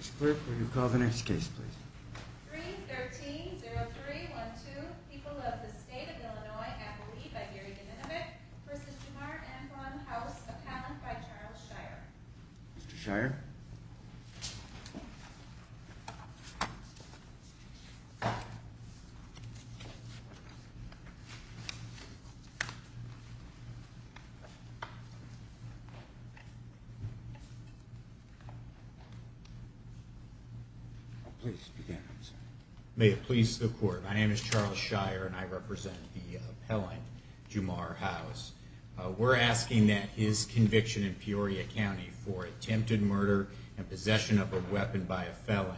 Mr. Clerk, will you call the next case, please? 3-13-0312, People of the State of Illinois, Appaloohee, by Gary DeNinovich, v. Jamar and v. House of Hammond, by Charles Shire. Mr. Shire? Please begin. May it please the Court. My name is Charles Shire, and I represent the appellant, Jamar House. We're asking that his conviction in Peoria County for attempted murder and possession of a weapon by a felon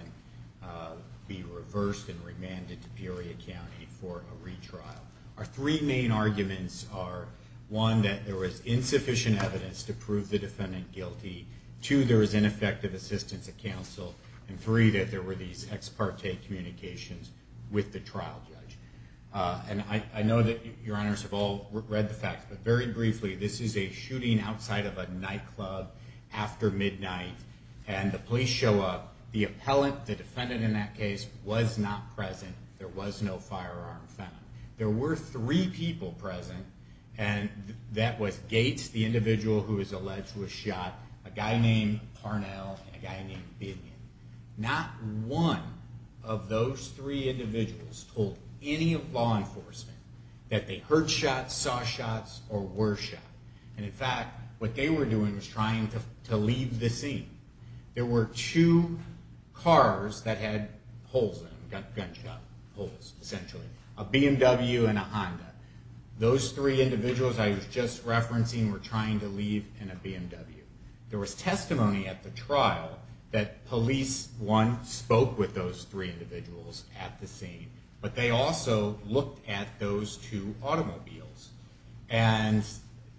be reversed and remanded to Peoria County for a retrial. Our three main arguments are, one, that there was insufficient evidence to prove the defendant guilty. Two, there was ineffective assistance at counsel. And three, that there were these ex parte communications with the trial judge. And I know that Your Honors have all read the facts, but very briefly, this is a shooting outside of a nightclub after midnight, and the police show up. The appellant, the defendant in that case, was not present. There was no firearm found. There were three people present, and that was Gates, the individual who was alleged to have shot, a guy named Parnell, and a guy named Binion. Not one of those three individuals told any law enforcement that they heard shots, saw shots, or were shot. And in fact, what they were doing was trying to leave the scene. There were two cars that had holes in them, gunshot holes, essentially. A BMW and a Honda. Those three individuals I was just referencing were trying to leave in a BMW. There was testimony at the trial that police, one, spoke with those three individuals at the scene, but they also looked at those two automobiles. And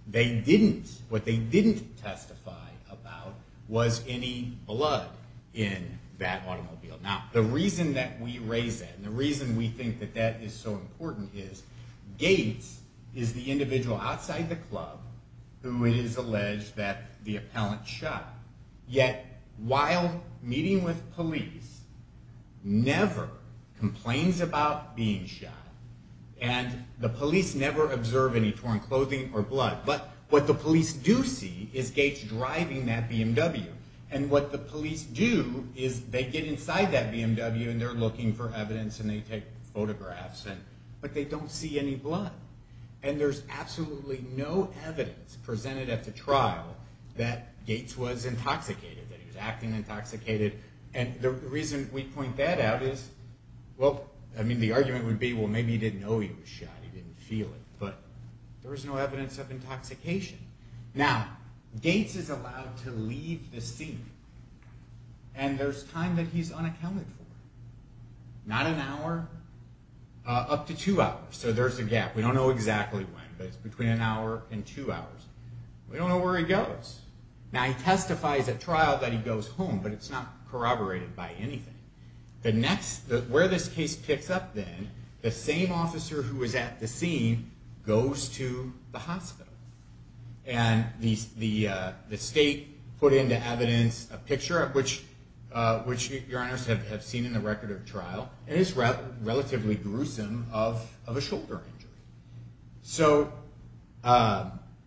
what they didn't testify about was any blood in that automobile. Now, the reason that we raise that, and the reason we think that that is so important is Gates is the individual outside the club who it is alleged that the appellant shot. Yet, while meeting with police, never complains about being shot, and the police never observe any torn clothing or blood. But what the police do see is Gates driving that BMW. And what the police do is they get inside that BMW, and they're looking for evidence, and they take photographs, but they don't see any blood. And there's absolutely no evidence presented at the trial that Gates was intoxicated, that he was acting intoxicated. And the reason we point that out is, well, I mean, the argument would be, well, maybe he didn't know he was shot. He didn't feel it. But there was no evidence of intoxication. Now, Gates is allowed to leave the scene, and there's time that he's unaccounted for. Not an hour, up to two hours. So there's a gap. We don't know exactly when, but it's between an hour and two hours. We don't know where he goes. Now, he testifies at trial that he goes home, but it's not corroborated by anything. Where this case picks up, then, the same officer who was at the scene goes to the hospital. And the state put into evidence a picture, which your honors have seen in the record of trial. It is relatively gruesome of a shoulder injury. So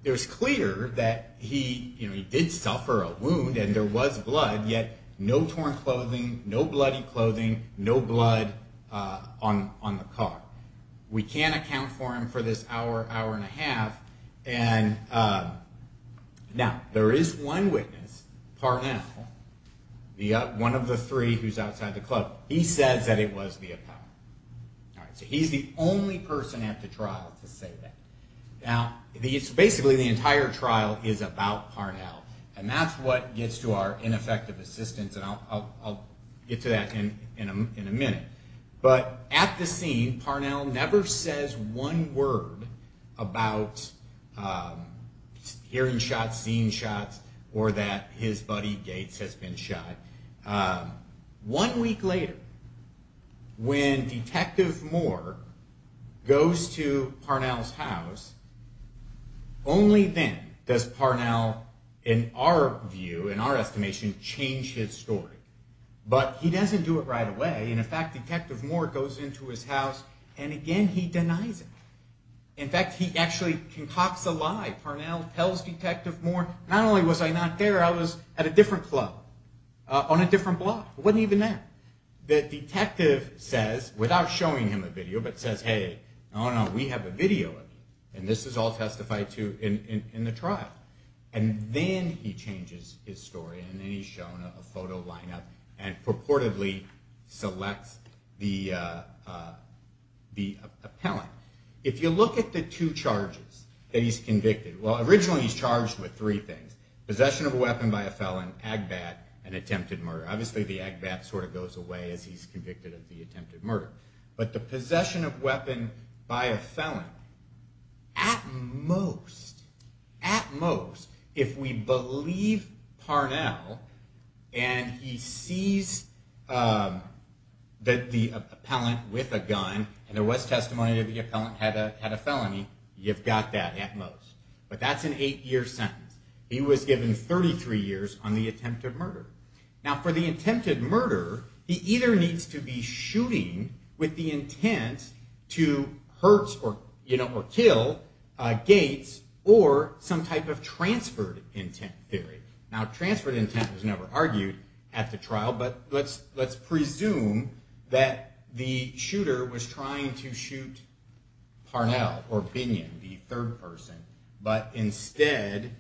it was clear that he did suffer a wound, and there was blood, yet no torn clothing, no bloody clothing, no blood on the car. We can't account for him for this hour, hour and a half. Now, there is one witness, Parnell, one of the three who's outside the club. He says that it was the Apollo. So he's the only person at the trial to say that. Now, basically, the entire trial is about Parnell, and that's what gets to our ineffective assistance, and I'll get to that in a minute. But at the scene, Parnell never says one word about hearing shots, seeing shots, or that his buddy Gates has been shot. One week later, when Detective Moore goes to Parnell's house, only then does Parnell, in our view, in our estimation, change his story. But he doesn't do it right away. In fact, Detective Moore goes into his house, and again, he denies it. In fact, he actually concocts a lie. Parnell tells Detective Moore, not only was I not there, I was at a different club, on a different block. I wasn't even there. The detective says, without showing him a video, but says, hey, no, no, we have a video of you, and this is all testified to in the trial. And then he changes his story, and then he's shown a photo lineup, and purportedly selects the appellant. If you look at the two charges that he's convicted, well, originally, he's charged with three things. Possession of a weapon by a felon, agbat, and attempted murder. Obviously, the agbat sort of goes away as he's convicted of the attempted murder. But the possession of weapon by a felon, at most, at most, if we believe Parnell, and he sees that the appellant with a gun, and there was testimony that the appellant had a felony, you've got that, at most. But that's an eight-year sentence. He was given 33 years on the attempted murder. Now, for the attempted murder, he either needs to be shooting with the intent to hurt or kill Gates, or some type of transferred intent theory. Now, transferred intent was never argued at the trial, but let's presume that the shooter was trying to shoot Parnell or Binion, the third person, but instead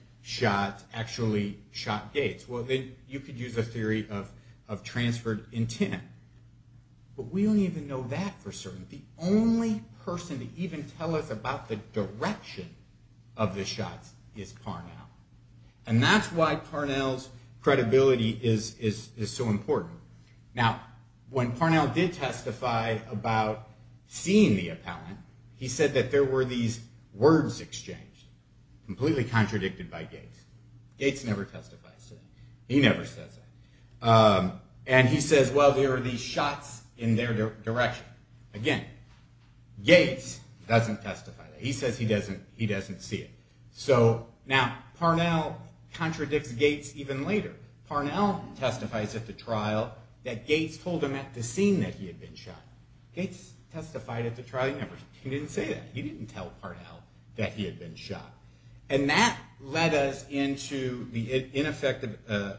actually shot Gates. Well, then you could use a theory of transferred intent. But we don't even know that for certain. The only person to even tell us about the direction of the shots is Parnell. And that's why Parnell's credibility is so important. Now, when Parnell did testify about seeing the appellant, he said that there were these words exchanged, completely contradicted by Gates. Gates never testifies to that. He never says that. And he says, well, there are these shots in their direction. Again, Gates doesn't testify to that. He says he doesn't see it. Now, Parnell contradicts Gates even later. Parnell testifies at the trial that Gates told him at the scene that he had been shot. Gates testified at the trial. He didn't say that. He didn't tell Parnell that he had been shot. And that led us into the ineffective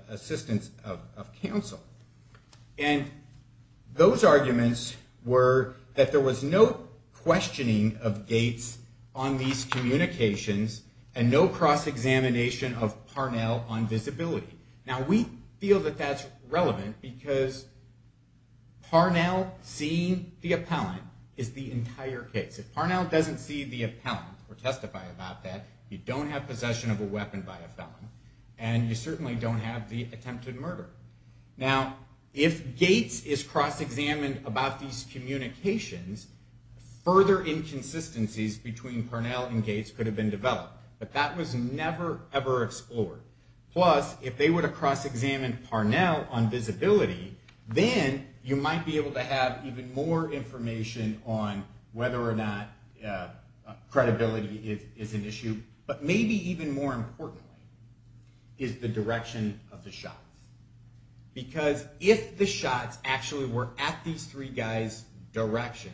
assistance of counsel. And those arguments were that there was no questioning of Gates on these communications and no cross-examination of Parnell on visibility. Now, we feel that that's relevant because Parnell seeing the appellant is the entire case. If Parnell doesn't see the appellant or testify about that, you don't have possession of a weapon by a felon. And you certainly don't have the attempt at murder. Now, if Gates is cross-examined about these communications, further inconsistencies between Parnell and Gates could have been developed. But that was never, ever explored. Plus, if they were to cross-examine Parnell on visibility, then you might be able to have even more information on whether or not credibility is an issue. But maybe even more importantly is the direction of the shots. Because if the shots actually were at these three guys' direction,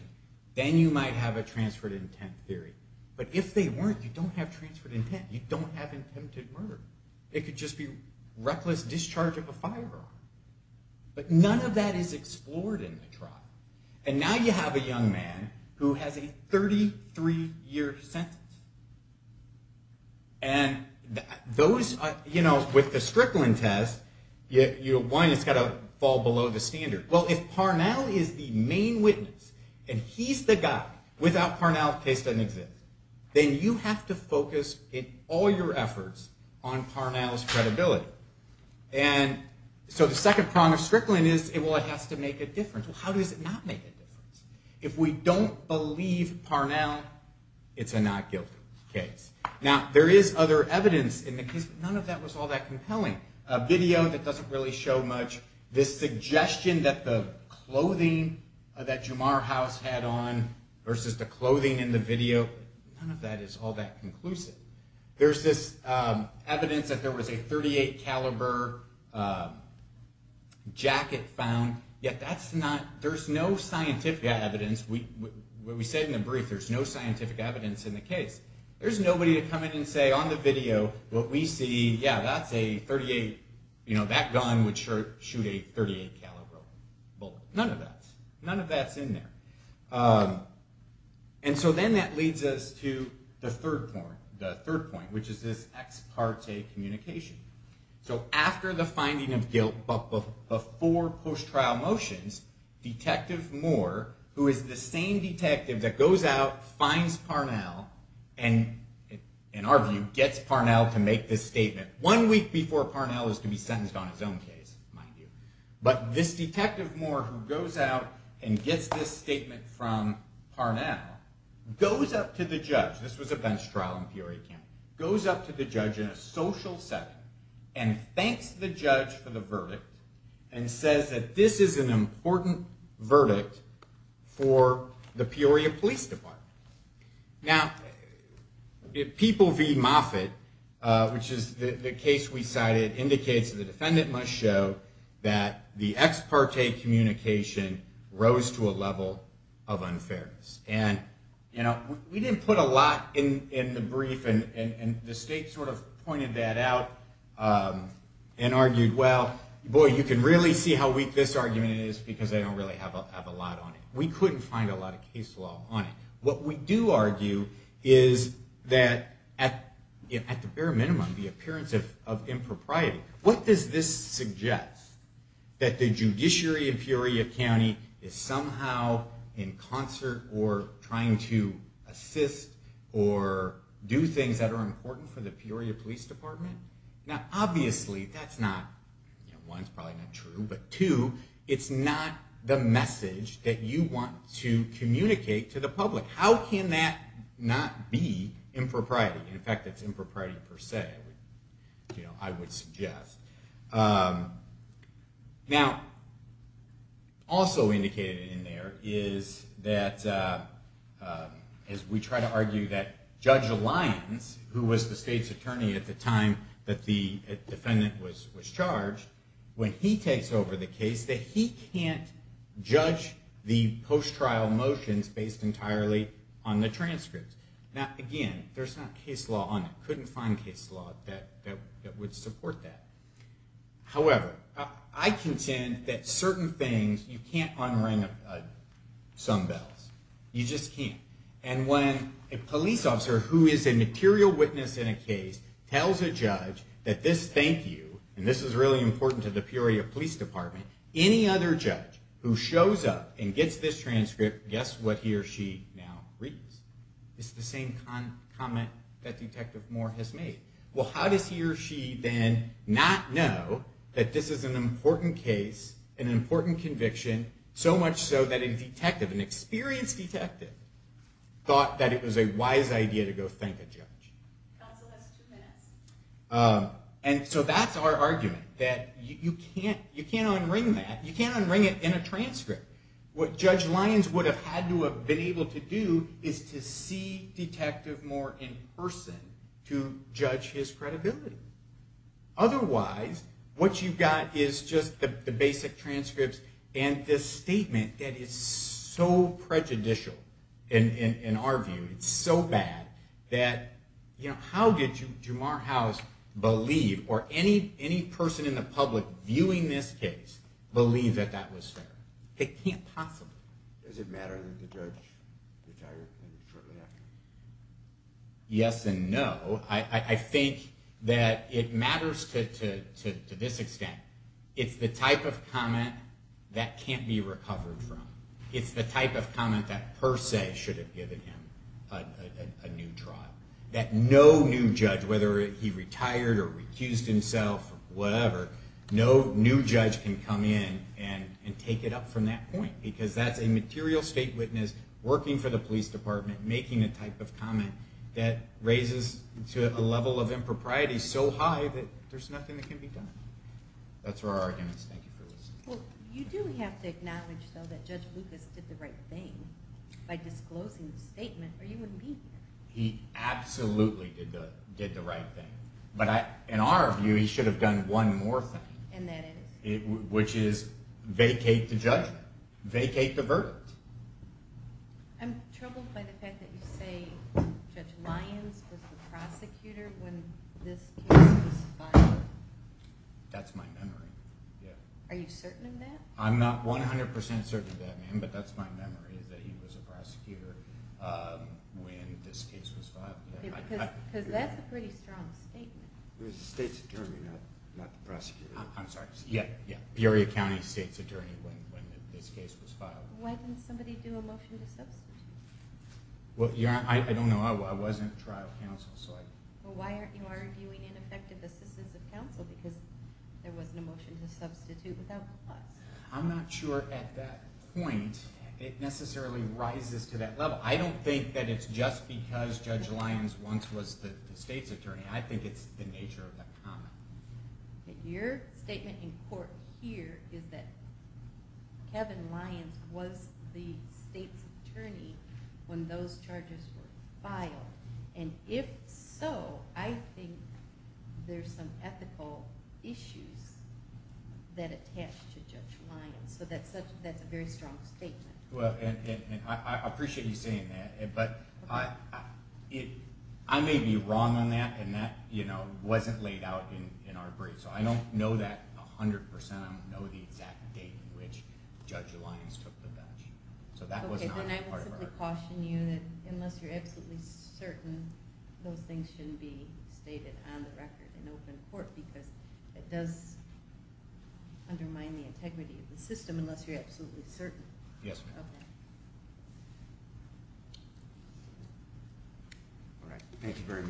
then you might have a transferred intent theory. But if they weren't, you don't have transferred intent. You don't have attempted murder. It could just be reckless discharge of a firearm. But none of that is explored in the trial. And now you have a young man who has a 33-year sentence. And with the Strickland test, you'll find it's got to fall below the standard. Well, if Parnell is the main witness, and he's the guy, without Parnell, the case doesn't exist. Then you have to focus in all your efforts on Parnell's credibility. And so the second prong of Strickland is, well, it has to make a difference. Well, how does it not make a difference? If we don't believe Parnell, it's a not guilty case. Now, there is other evidence in the case, but none of that was all that compelling. A video that doesn't really show much. This suggestion that the clothing that Jamar House had on versus the clothing in the video, none of that is all that conclusive. There's this evidence that there was a .38 caliber jacket found. Yet that's not, there's no scientific evidence. What we said in the brief, there's no scientific evidence in the case. There's nobody to come in and say, on the video, what we see, yeah, that's a .38, that gun would shoot a .38 caliber bullet. None of that. None of that's in there. And so then that leads us to the third point, which is this ex parte communication. So after the finding of guilt, but before post-trial motions, Detective Moore, who is the same detective that goes out, finds Parnell, and in our view, gets Parnell to make this statement, one week before Parnell is to be sentenced on his own case, mind you. But this Detective Moore who goes out and gets this statement from Parnell, goes up to the judge, this was a bench trial in Peoria County, goes up to the judge in a social setting, and thanks the judge for the verdict, and says that this is an important verdict for the Peoria Police Department. Now, People v. Moffitt, which is the case we cited, indicates that the defendant must show that the ex parte communication rose to a level of unfairness. And we didn't put a lot in the brief, and the state sort of pointed that out and argued, well, boy, you can really see how weak this argument is because they don't really have a lot on it. We couldn't find a lot of case law on it. What we do argue is that, at the bare minimum, the appearance of impropriety. What does this suggest? That the judiciary in Peoria County is somehow in concert or trying to assist or do things that are important for the Peoria Police Department? Now, obviously, that's not, one, it's probably not true, but two, it's not the message that you want to communicate to the public. How can that not be impropriety? In fact, it's impropriety per se, I would suggest. Now, also indicated in there is that, as we try to argue that Judge Lyons, who was the state's attorney at the time that the defendant was charged, when he takes over the case, that he can't judge the post-trial motions based entirely on the transcripts. Now, again, there's not case law on it. Couldn't find case law that would support that. However, I contend that certain things, you can't unring some bells. You just can't. And when a police officer who is a material witness in a case tells a judge that this thank you, and this is really important to the Peoria Police Department, any other judge who shows up and gets this transcript, guess what he or she now reads? It's the same comment that Detective Moore has made. Well, how does he or she then not know that this is an important case, an important conviction, so much so that a detective, an experienced detective, thought that it was a wise idea to go thank a judge? Counsel has two minutes. And so that's our argument, that you can't unring that. You can't unring it in a transcript. What Judge Lyons would have had to have been able to do is to see Detective Moore in person to judge his credibility. Otherwise, what you've got is just the basic transcripts and this statement that is so prejudicial in our view, it's so bad, that how did Jamar House believe, or any person in the public viewing this case believe that that was fair? It can't possibly. Does it matter that the judge retired shortly after? Yes and no. I think that it matters to this extent. It's the type of comment that can't be recovered from. It's the type of comment that per se should have given him a new trial. That no new judge, whether he retired or recused himself or whatever, no new judge can come in and take it up from that point because that's a material state witness working for the police department making a type of comment that raises a level of impropriety so high that there's nothing that can be done. That's where our argument is. Thank you for listening. You do have to acknowledge, though, that Judge Lucas did the right thing by disclosing the statement or you wouldn't be here. He absolutely did the right thing. But in our view, he should have done one more thing. And that is? Which is vacate the judgment, vacate the verdict. I'm troubled by the fact that you say Judge Lyons was the prosecutor when this case was filed. That's my memory. Are you certain of that? I'm not 100% certain of that, ma'am, but that's my memory, that he was a prosecutor when this case was filed. Because that's a pretty strong statement. He was the state's attorney, not the prosecutor. I'm sorry. Yeah, yeah. Peoria County State's attorney when this case was filed. Why didn't somebody do a motion to substitute? Well, I don't know. I wasn't trial counsel. Well, why aren't you arguing ineffective assistance of counsel because there wasn't a motion to substitute without clause? I'm not sure at that point it necessarily rises to that level. I don't think that it's just because Judge Lyons once was the state's attorney. I think it's the nature of that comment. Your statement in court here is that Kevin Lyons was the state's attorney when those charges were filed. If so, I think there's some ethical issues that attach to Judge Lyons. That's a very strong statement. I appreciate you saying that, but I may be wrong on that, and that wasn't laid out in our briefs. I don't know that 100%. I don't know the exact date on which Judge Lyons took the bench. Okay, then I will simply caution you that unless you're absolutely certain, those things shouldn't be stated on the record in open court because it does undermine the integrity of the system unless you're absolutely certain of that. Yes, ma'am. All right, thank you very much.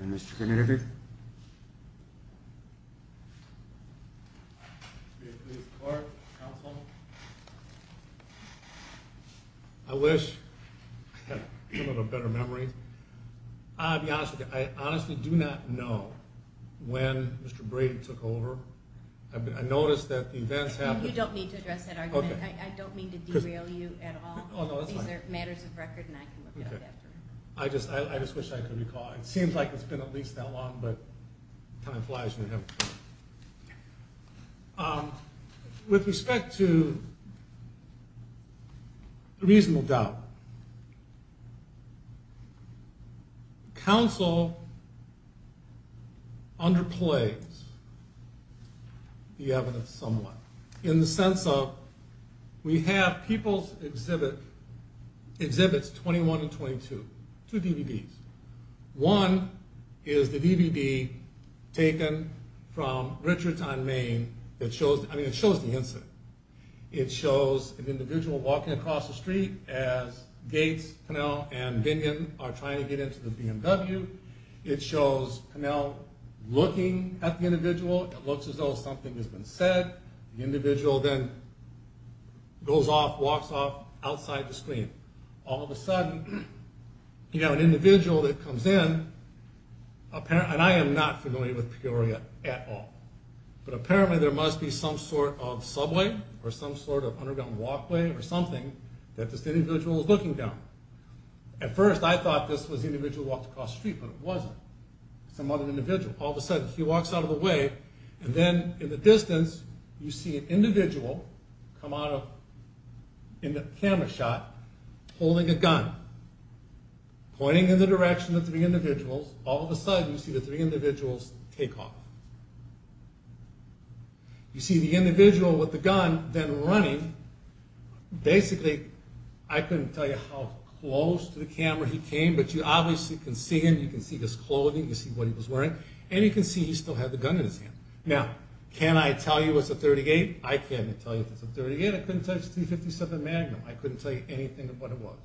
And Mr. Knitted? Mr. Knitted? I wish I had a little better memory. I'll be honest with you. I honestly do not know when Mr. Brady took over. I noticed that the events happened. You don't need to address that argument. I don't mean to derail you at all. These are matters of record, and I can look it up after. I just wish I could recall. It seems like it's been at least that long, but time flies when you're having fun. With respect to reasonable doubt, counsel underplays the evidence somewhat in the sense of we have people's exhibits 21 and 22, two DVDs. One is the DVD taken from Richardson, Maine. It shows the incident. It shows an individual walking across the street as Gates, Pinnell, and Bingen are trying to get into the BMW. It shows Pinnell looking at the individual. It looks as though something has been said. The individual then goes off, walks off outside the screen. All of a sudden, you have an individual that comes in, and I am not familiar with Peoria at all, but apparently there must be some sort of subway or some sort of underground walkway or something that this individual is looking down. At first, I thought this was the individual who walked across the street, but it wasn't. It's some other individual. All of a sudden, he walks out of the way, and then in the distance, you see an individual come out in the camera shot holding a gun, pointing in the direction of the three individuals. All of a sudden, you see the three individuals take off. You see the individual with the gun then running. Basically, I couldn't tell you how close to the camera he came, but you obviously can see him. You can see his clothing. You can see what he was wearing, and you can see he still had the gun in his hand. Now, can I tell you it's a .38? I can't tell you it's a .38. I couldn't tell you it's a .357 Magnum. I couldn't tell you anything of what it was,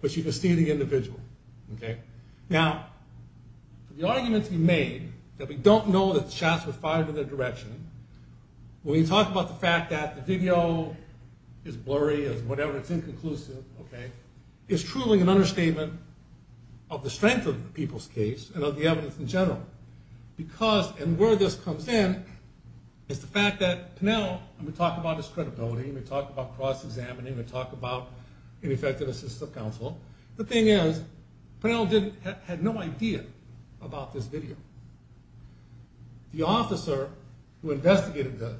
but you can see the individual. Now, the argument to be made that we don't know that the shots were fired in their direction, when we talk about the fact that the video is blurry, is whatever, it's inconclusive, is truly an understatement of the strength of the people's case and of the evidence in general. Because, and where this comes in, is the fact that Pinnell, and we talk about his credibility, and we talk about cross-examining, and we talk about ineffective assistive counsel. The thing is, Pinnell had no idea about this video. The officer who investigated this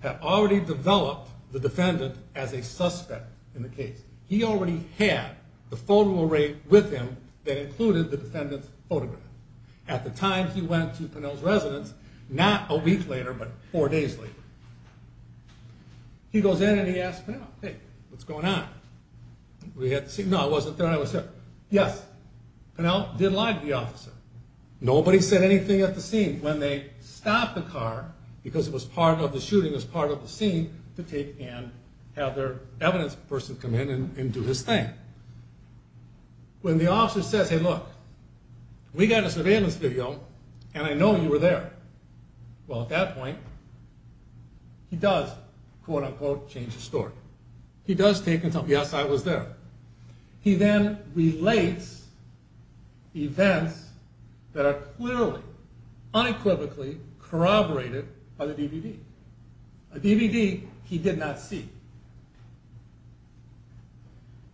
had already developed the defendant as a suspect in the case. He already had the photo array with him that included the defendant's photograph. At the time he went to Pinnell's residence, not a week later, but four days later, he goes in and he asks Pinnell, hey, what's going on? No, I wasn't there when I was here. Yes, Pinnell did lie to the officer. Nobody said anything at the scene. When they stopped the car, because it was part of the shooting, it was part of the scene, to take and have their evidence person come in and do his thing. When the officer says, hey, look, we got a surveillance video, and I know you were there. Well, at that point, he does, quote-unquote, change the story. He does take and tell, yes, I was there. He then relates events that are clearly unequivocally corroborated by the DVD, a DVD he did not see.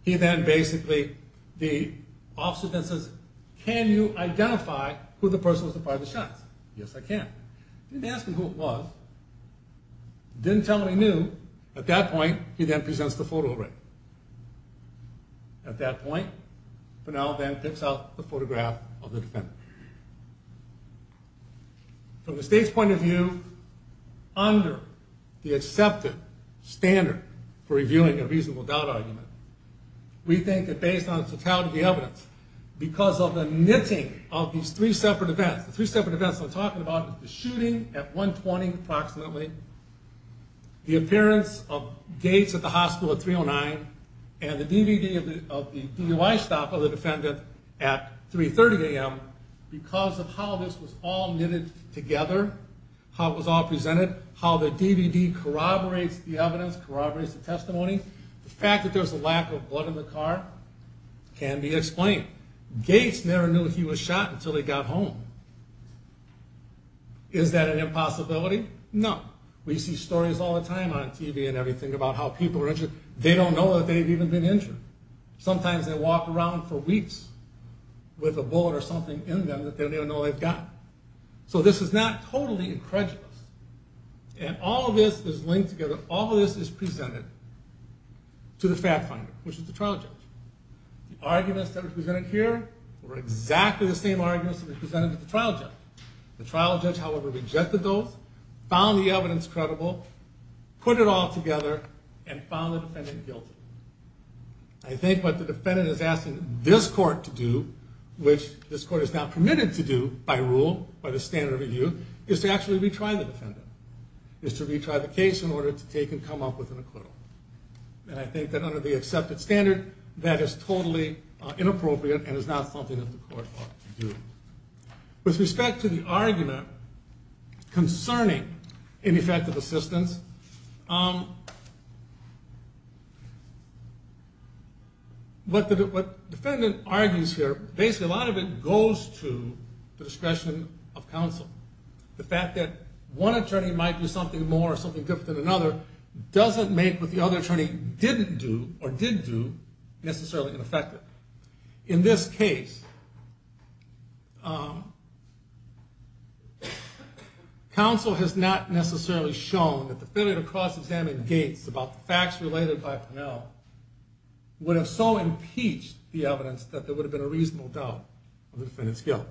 He then basically, the officer then says, can you identify who the person was that fired the shots? Yes, I can. He didn't ask him who it was, didn't tell him he knew. At that point, he then presents the photo array. At that point, Pinnell then picks out the photograph of the defendant. From the state's point of view, under the accepted standard for revealing a reasonable doubt argument, we think that based on the totality of the evidence, because of the knitting of these three separate events, the three separate events I'm talking about is the shooting at 120 approximately, the appearance of Gates at the hospital at 309, and the DVD of the DUI stop of the defendant at 330 a.m., because of how this was all knitted together, how it was all presented, how the DVD corroborates the evidence, corroborates the testimony, the fact that there's a lack of blood in the car can be explained. Gates never knew he was shot until he got home. Is that an impossibility? No. We see stories all the time on TV and everything about how people are injured. They don't know that they've even been injured. Sometimes they walk around for weeks with a bullet or something in them that they don't even know they've gotten. So this is not totally incredulous. And all of this is linked together. All of this is presented to the fact finder, which is the trial judge. The arguments that are presented here were exactly the same arguments that were presented to the trial judge. The trial judge, however, rejected those, found the evidence credible, put it all together, and found the defendant guilty. I think what the defendant is asking this court to do, which this court is now permitted to do by rule, by the standard of review, is to actually retry the defendant, is to retry the case in order to take and come up with an acquittal. And I think that under the accepted standard, that is totally inappropriate and is not something that the court ought to do. With respect to the argument concerning ineffective assistance, what the defendant argues here, basically a lot of it goes to the discretion of counsel. The fact that one attorney might do something more or something different than another doesn't make what the other attorney didn't do or did do necessarily ineffective. In this case, counsel has not necessarily shown that the failure to cross-examine Gates about the facts related by Parnell would have so impeached the evidence that there would have been a reasonable doubt of the defendant's guilt.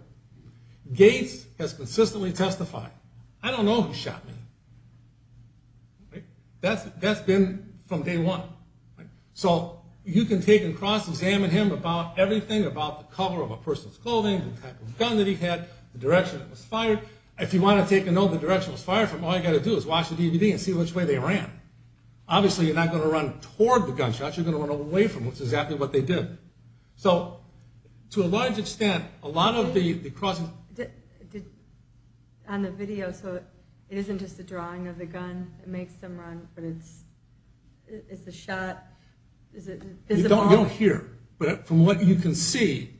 Gates has consistently testified, I don't know who shot me. That's been from day one. So you can take and cross-examine him about everything, about the color of a person's clothing, the type of gun that he had, the direction it was fired. If you want to take a note of the direction it was fired from, all you've got to do is watch the DVD and see which way they ran. Obviously, you're not going to run toward the gunshot, you're going to run away from it, which is exactly what they did. So to a large extent, a lot of the cross-examination... On the video, so it isn't just a drawing of the gun, it makes them run, but it's... It's a shot... You don't hear, but from what you can see,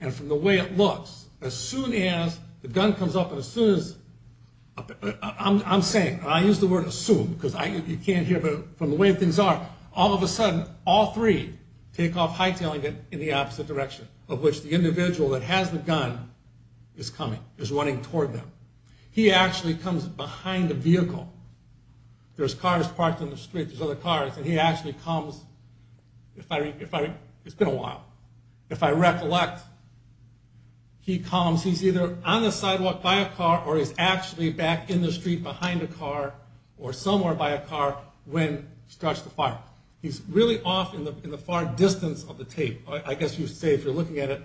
and from the way it looks, as soon as the gun comes up, and as soon as... I'm saying, and I use the word assume, because you can't hear, but from the way things are, all of a sudden, all three take off high-tailing it in the opposite direction, of which the individual that has the gun is coming, is running toward them. He actually comes behind the vehicle. There's cars parked on the street, there's other cars, and he actually comes... It's been a while. If I recollect, he comes... He's either on the sidewalk by a car, or he's actually back in the street behind a car, or somewhere by a car, when it starts to fire. He's really off in the far distance of the tape. I guess you say, if you're looking at it...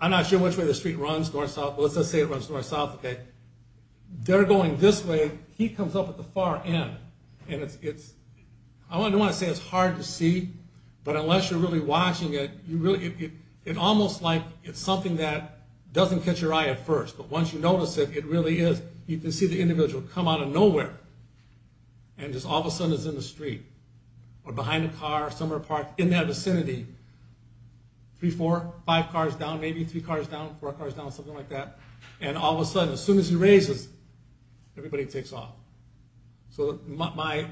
I'm not sure which way the street runs, north-south, but let's just say it runs north-south, okay? They're going this way, he comes up at the far end, and it's... I don't want to say it's hard to see, but unless you're really watching it, it's almost like it's something that doesn't catch your eye at first, but once you notice it, it really is. You can see the individual come out of nowhere, and just all of a sudden is in the street, or behind a car, somewhere parked in that vicinity, three, four, five cars down, maybe three cars down, four cars down, something like that, and all of a sudden, as soon as he raises, everybody takes off. So my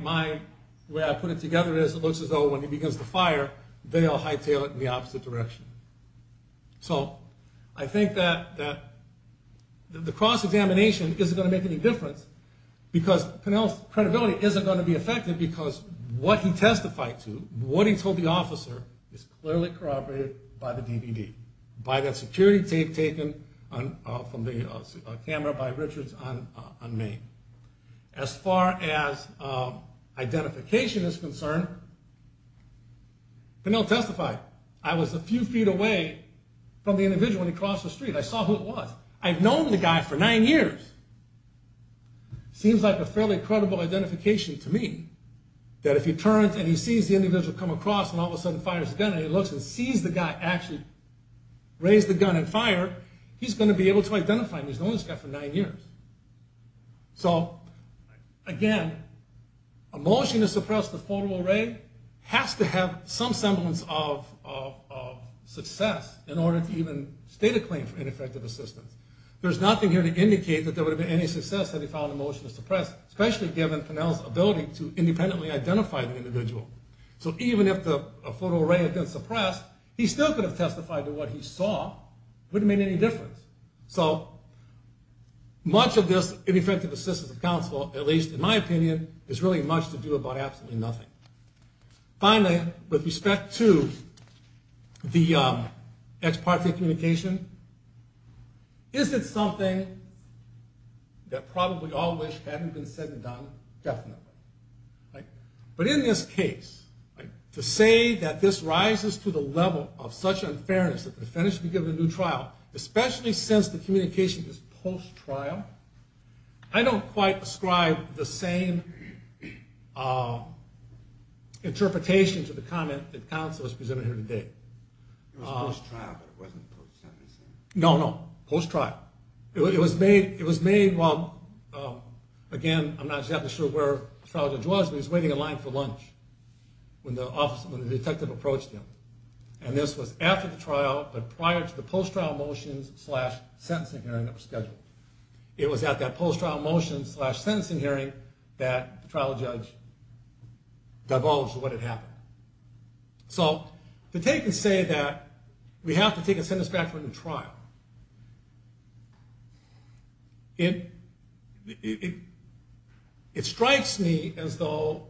way I put it together is, it looks as though when he begins to fire, they all hightail it in the opposite direction. So I think that the cross-examination isn't going to make any difference, because Pennell's credibility isn't going to be affected because what he testified to, what he told the officer is clearly corroborated by the DVD, by that security tape taken from the camera by Richards on Main. As far as identification is concerned, Pennell testified, I was a few feet away from the individual when he crossed the street. I saw who it was. I've known the guy for nine years. Seems like a fairly credible identification to me, that if he turns and he sees the individual come across and all of a sudden fires a gun and he looks and sees the guy actually raise the gun and fire, he's going to be able to identify him. He's known this guy for nine years. So, again, a motion to suppress the photo array has to have some semblance of success in order to even state a claim for ineffective assistance. There's nothing here to indicate that there would have been any success had he filed a motion to suppress, especially given Pennell's ability to independently identify the individual. So even if the photo array had been suppressed, he still could have testified to what he saw. It wouldn't have made any difference. So much of this ineffective assistance of counsel, at least in my opinion, has really much to do about absolutely nothing. Finally, with respect to the ex parte communication, is it something that probably all wish hadn't been said and done? Definitely. But in this case, to say that this rises to the level of such unfairness that the defendant should be given a new trial, especially since the communication is post-trial, I don't quite ascribe the same interpretation to the comment that counsel has presented here today. It was post-trial, but it wasn't post-sentencing? No, no. Post-trial. It was made while, again, I'm not exactly sure where the trial judge was, but he was waiting in line for lunch when the detective approached him. And this was after the trial, but prior to the post-trial motions slash sentencing hearing that was scheduled. It was at that post-trial motions slash sentencing hearing that the trial judge divulged what had happened. So to take and say that we have to take a sentence back for a new trial, it strikes me as though,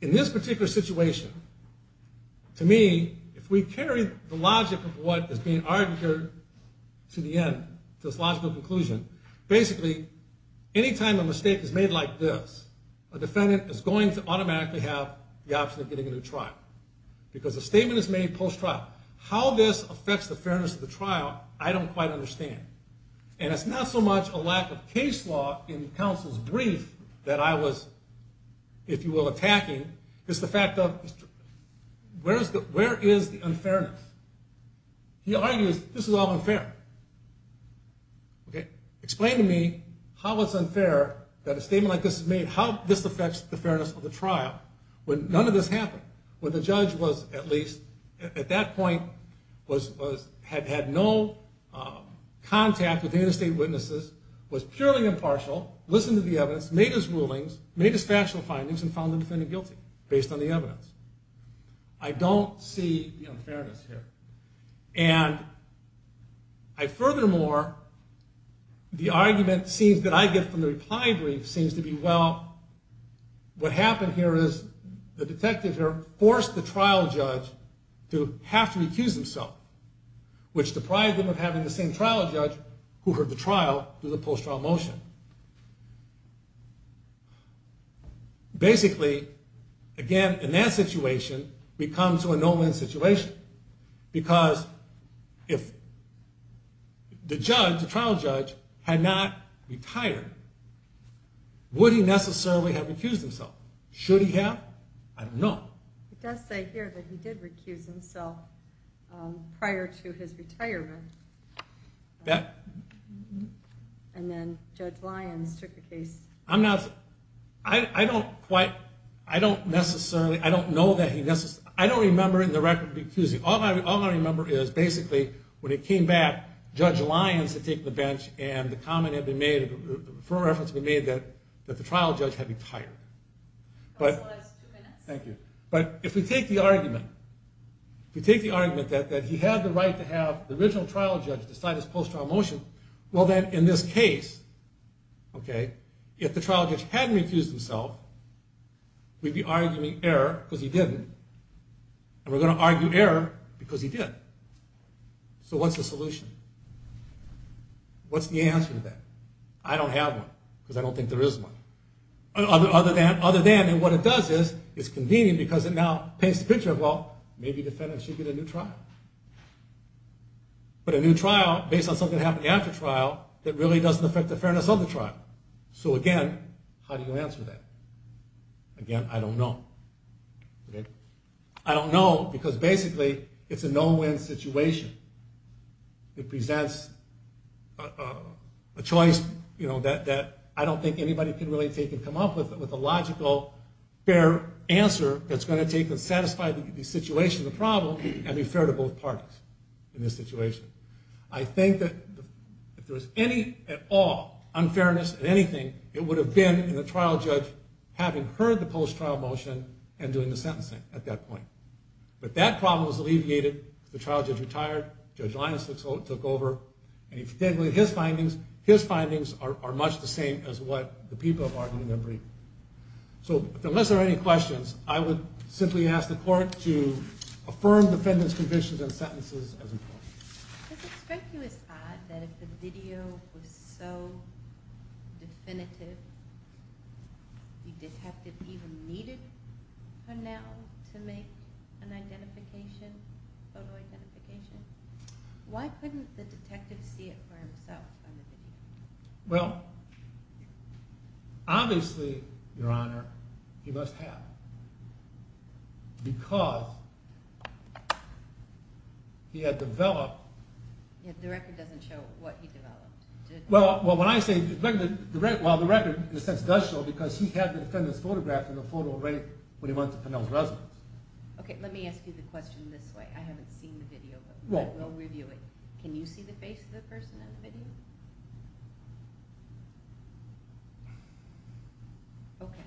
in this particular situation, to me, if we carry the logic of what is being argued here to the end, to this logical conclusion, basically, any time a mistake is made like this, a defendant is going to automatically have the option of getting a new trial because a statement is made post-trial. How this affects the fairness of the trial, I don't quite understand. And it's not so much a lack of case law in counsel's brief that I was, if you will, attacking, it's the fact of where is the unfairness? He argues this is all unfair. Explain to me how it's unfair that a statement like this is made. How this affects the fairness of the trial when none of this happened, when the judge was at least, at that point, had had no contact with any of the state witnesses, was purely impartial, listened to the evidence, made his rulings, made his factual findings, and found the defendant guilty based on the evidence. I don't see the unfairness here. And furthermore, the argument that I get from the reply brief seems to be, well, what happened here is the detective here forced the trial judge to have to accuse himself, which deprived him of having the same trial judge who heard the trial through the post-trial motion. Basically, again, in that situation, we come to a no-win situation because if the judge, the trial judge, had not retired, would he necessarily have accused himself? Should he have? I don't know. It does say here that he did recuse himself prior to his retirement. And then Judge Lyons took the case. I'm not, I don't quite, I don't necessarily, I don't know that he necessarily, I don't remember in the record recusing. All I remember is basically when it came back, Judge Lyons had taken the bench and the comment had been made, a firm reference had been made that the trial judge had retired. That was the last two minutes. Thank you. But if we take the argument, if we take the argument that he had the right to have the original trial judge decide his post-trial motion, well then, in this case, if the trial judge hadn't recused himself, we'd be arguing error because he didn't and we're going to argue error because he did. So what's the solution? What's the answer to that? I don't have one because I don't think there is one. Other than, and what it does is, it's convenient because it now paints the picture of, well, maybe defendants should get a new trial. But a new trial based on something that happened after trial that really doesn't affect the fairness of the trial. So again, how do you answer that? Again, I don't know. I don't know because basically it's a no-win situation. It presents a choice that I don't think anybody can really take and come up with a logical, fair answer that's going to take and satisfy the situation, the problem, and be fair to both parties in this situation. I think that if there was any at all unfairness in anything, it would have been in the trial judge having heard the post-trial motion and doing the sentencing at that point. But that problem was alleviated. The trial judge retired. Judge Lyons took over. And if you take away his findings, his findings are much the same as what the people have argued and agreed. So unless there are any questions, I would simply ask the court to affirm defendants' convictions and sentences as important. Does it strike you as odd that if the video was so definitive, the detective even needed her now to make an identification, photo identification? Why couldn't the detective see it for himself on the video? Well, obviously, Your Honor, he must have because he had developed... The record doesn't show what he developed, does it? Well, when I say... Well, the record, in a sense, does show because he had the defendant's photograph in the photo right when he went to Pennell's residence. Okay, let me ask you the question this way. I haven't seen the video, but we'll review it. Can you see the face of the person in the video? Okay.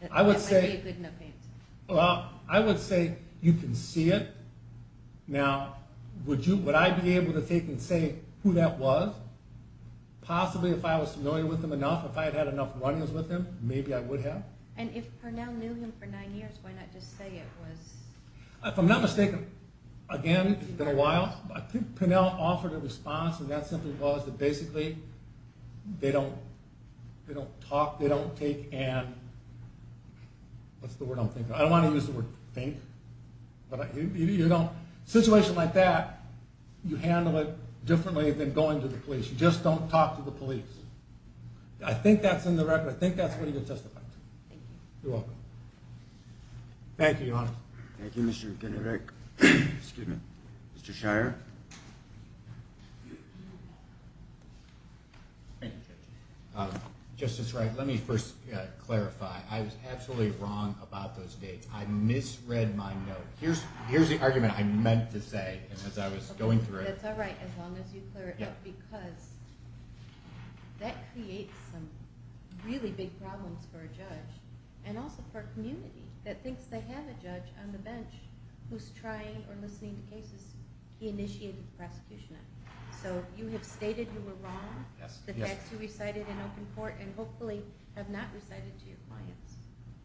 That might be a good enough answer. Well, I would say you can see it. Now, would I be able to take and say who that was? Possibly if I was familiar with him enough, if I had had enough runnings with him, maybe I would have. And if Pennell knew him for nine years, why not just say it was... If I'm not mistaken, again, it's been a while, I think Pennell offered a response, and that simply was that basically they don't talk, they don't take and... What's the word I'm thinking of? I don't want to use the word think. In a situation like that, you handle it differently than going to the police. You just don't talk to the police. I think that's in the record. I think that's what he would testify to. Thank you. You're welcome. Thank you, Your Honor. Thank you, Mr. Kinnearick. Excuse me. Mr. Shire? Thank you, Judge. Justice Wright, let me first clarify. I was absolutely wrong about those dates. I misread my note. Here's the argument I meant to say as I was going through it. That's all right, as long as you clear it up, because that creates some really big problems for a judge and also for a community that thinks they have a judge on the bench who's trying or listening to cases he initiated the prosecution of. So you have stated you were wrong, the facts you recited in open court, and hopefully have not recited to your clients.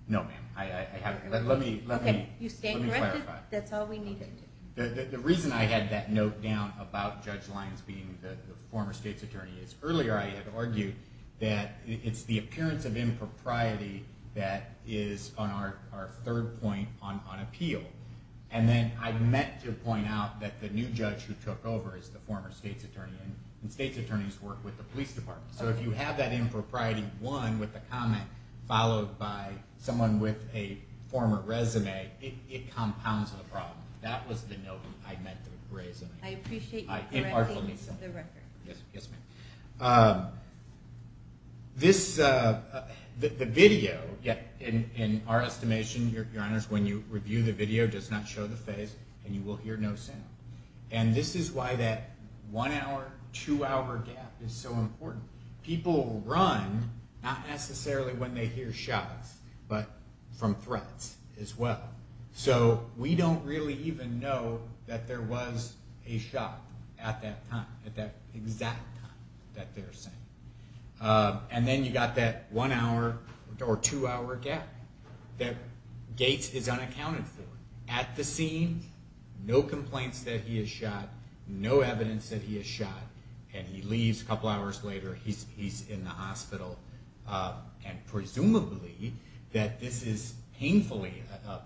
No, ma'am. Let me clarify. You stand corrected. That's all we need to do. The reason I had that note down about Judge Lyons being the former state's attorney is earlier I had argued that it's the appearance of impropriety that is on our third point on appeal. And then I meant to point out that the new judge who took over is the former state's attorney, and state's attorneys work with the police department. So if you have that impropriety, one, with the comment, followed by someone with a former resume, it compounds the problem. That was the note I meant to raise. I appreciate you correcting the record. Yes, ma'am. The video, in our estimation, Your Honors, when you review the video, does not show the face, and you will hear no sound. And this is why that one-hour, two-hour gap is so important. People run, not necessarily when they hear shots, but from threats as well. So we don't really even know that there was a shot at that time, at that exact time that they're saying. And then you've got that one-hour or two-hour gap that Gates is unaccounted for. At the scene, no complaints that he has shot, no evidence that he has shot, and he leaves a couple hours later, he's in the hospital. And presumably that this is painful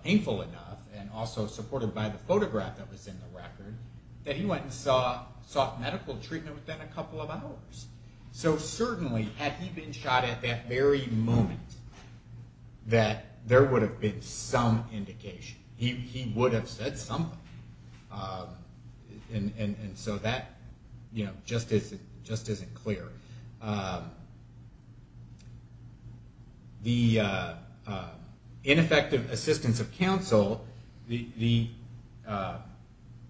enough, and also supported by the photograph that was in the record, that he went and sought medical treatment within a couple of hours. So certainly, had he been shot at that very moment, that there would have been some indication. He would have said something. And so that just isn't clear. The ineffective assistance of counsel, the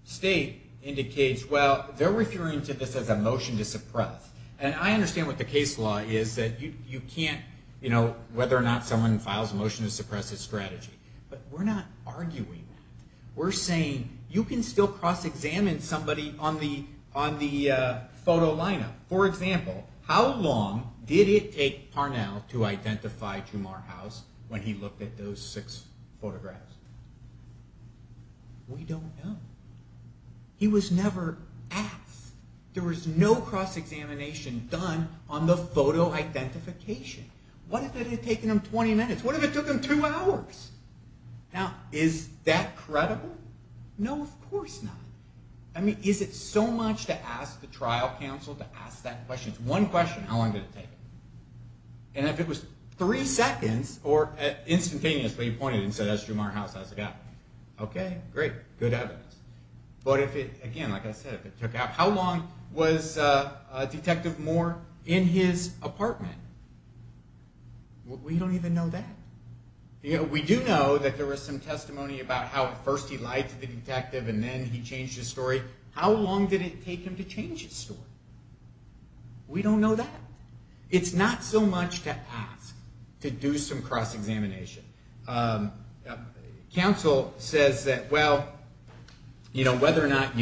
state indicates, well, they're referring to this as a motion to suppress. And I understand what the case law is, that you can't, you know, whether or not someone files a motion to suppress a strategy. But we're not arguing that. We're saying you can still cross-examine somebody on the photo lineup. For example, how long did it take Parnell to identify Jumar House when he looked at those six photographs? We don't know. He was never asked. There was no cross-examination done on the photo identification. What if it had taken him 20 minutes? What if it took him two hours? Now, is that credible? No, of course not. I mean, is it so much to ask the trial counsel to ask that question? It's one question, how long did it take? And if it was three seconds, or instantaneously he pointed and said, that's Jumar House, how's it going? Okay, great, good evidence. But if it, again, like I said, how long was Detective Moore in his apartment? We don't even know that. We do know that there was some testimony about how first he lied to the detective and then he changed his story. How long did it take him to change his story? We don't know that. It's not so much to ask to do some cross-examination. Counsel says that, well, you know, whether or not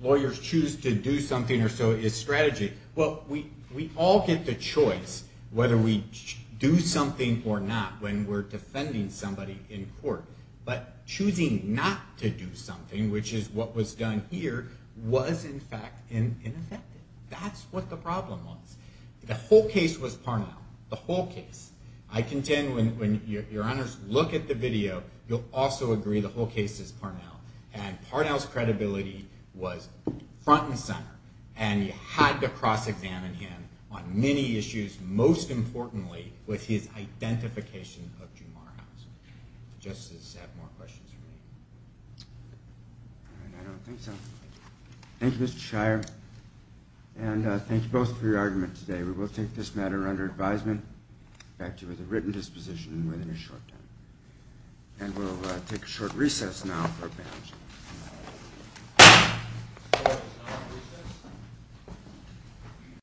lawyers choose to do something or so is strategy. Well, we all get the choice whether we do something or not when we're defending somebody in court. But choosing not to do something, which is what was done here, was, in fact, ineffective. That's what the problem was. The whole case was Parnell, the whole case. I contend when your honors look at the video, you'll also agree the whole case is Parnell. And Parnell's credibility was front and center. And you had to cross-examine him on many issues, most importantly with his identification of Jumar House. Justices have more questions for me. I don't think so. Thank you, Mr. Shire. And thank you both for your argument today. We will take this matter under advisement. In fact, it was a written disposition within a short time. And we'll take a short recess now for advance.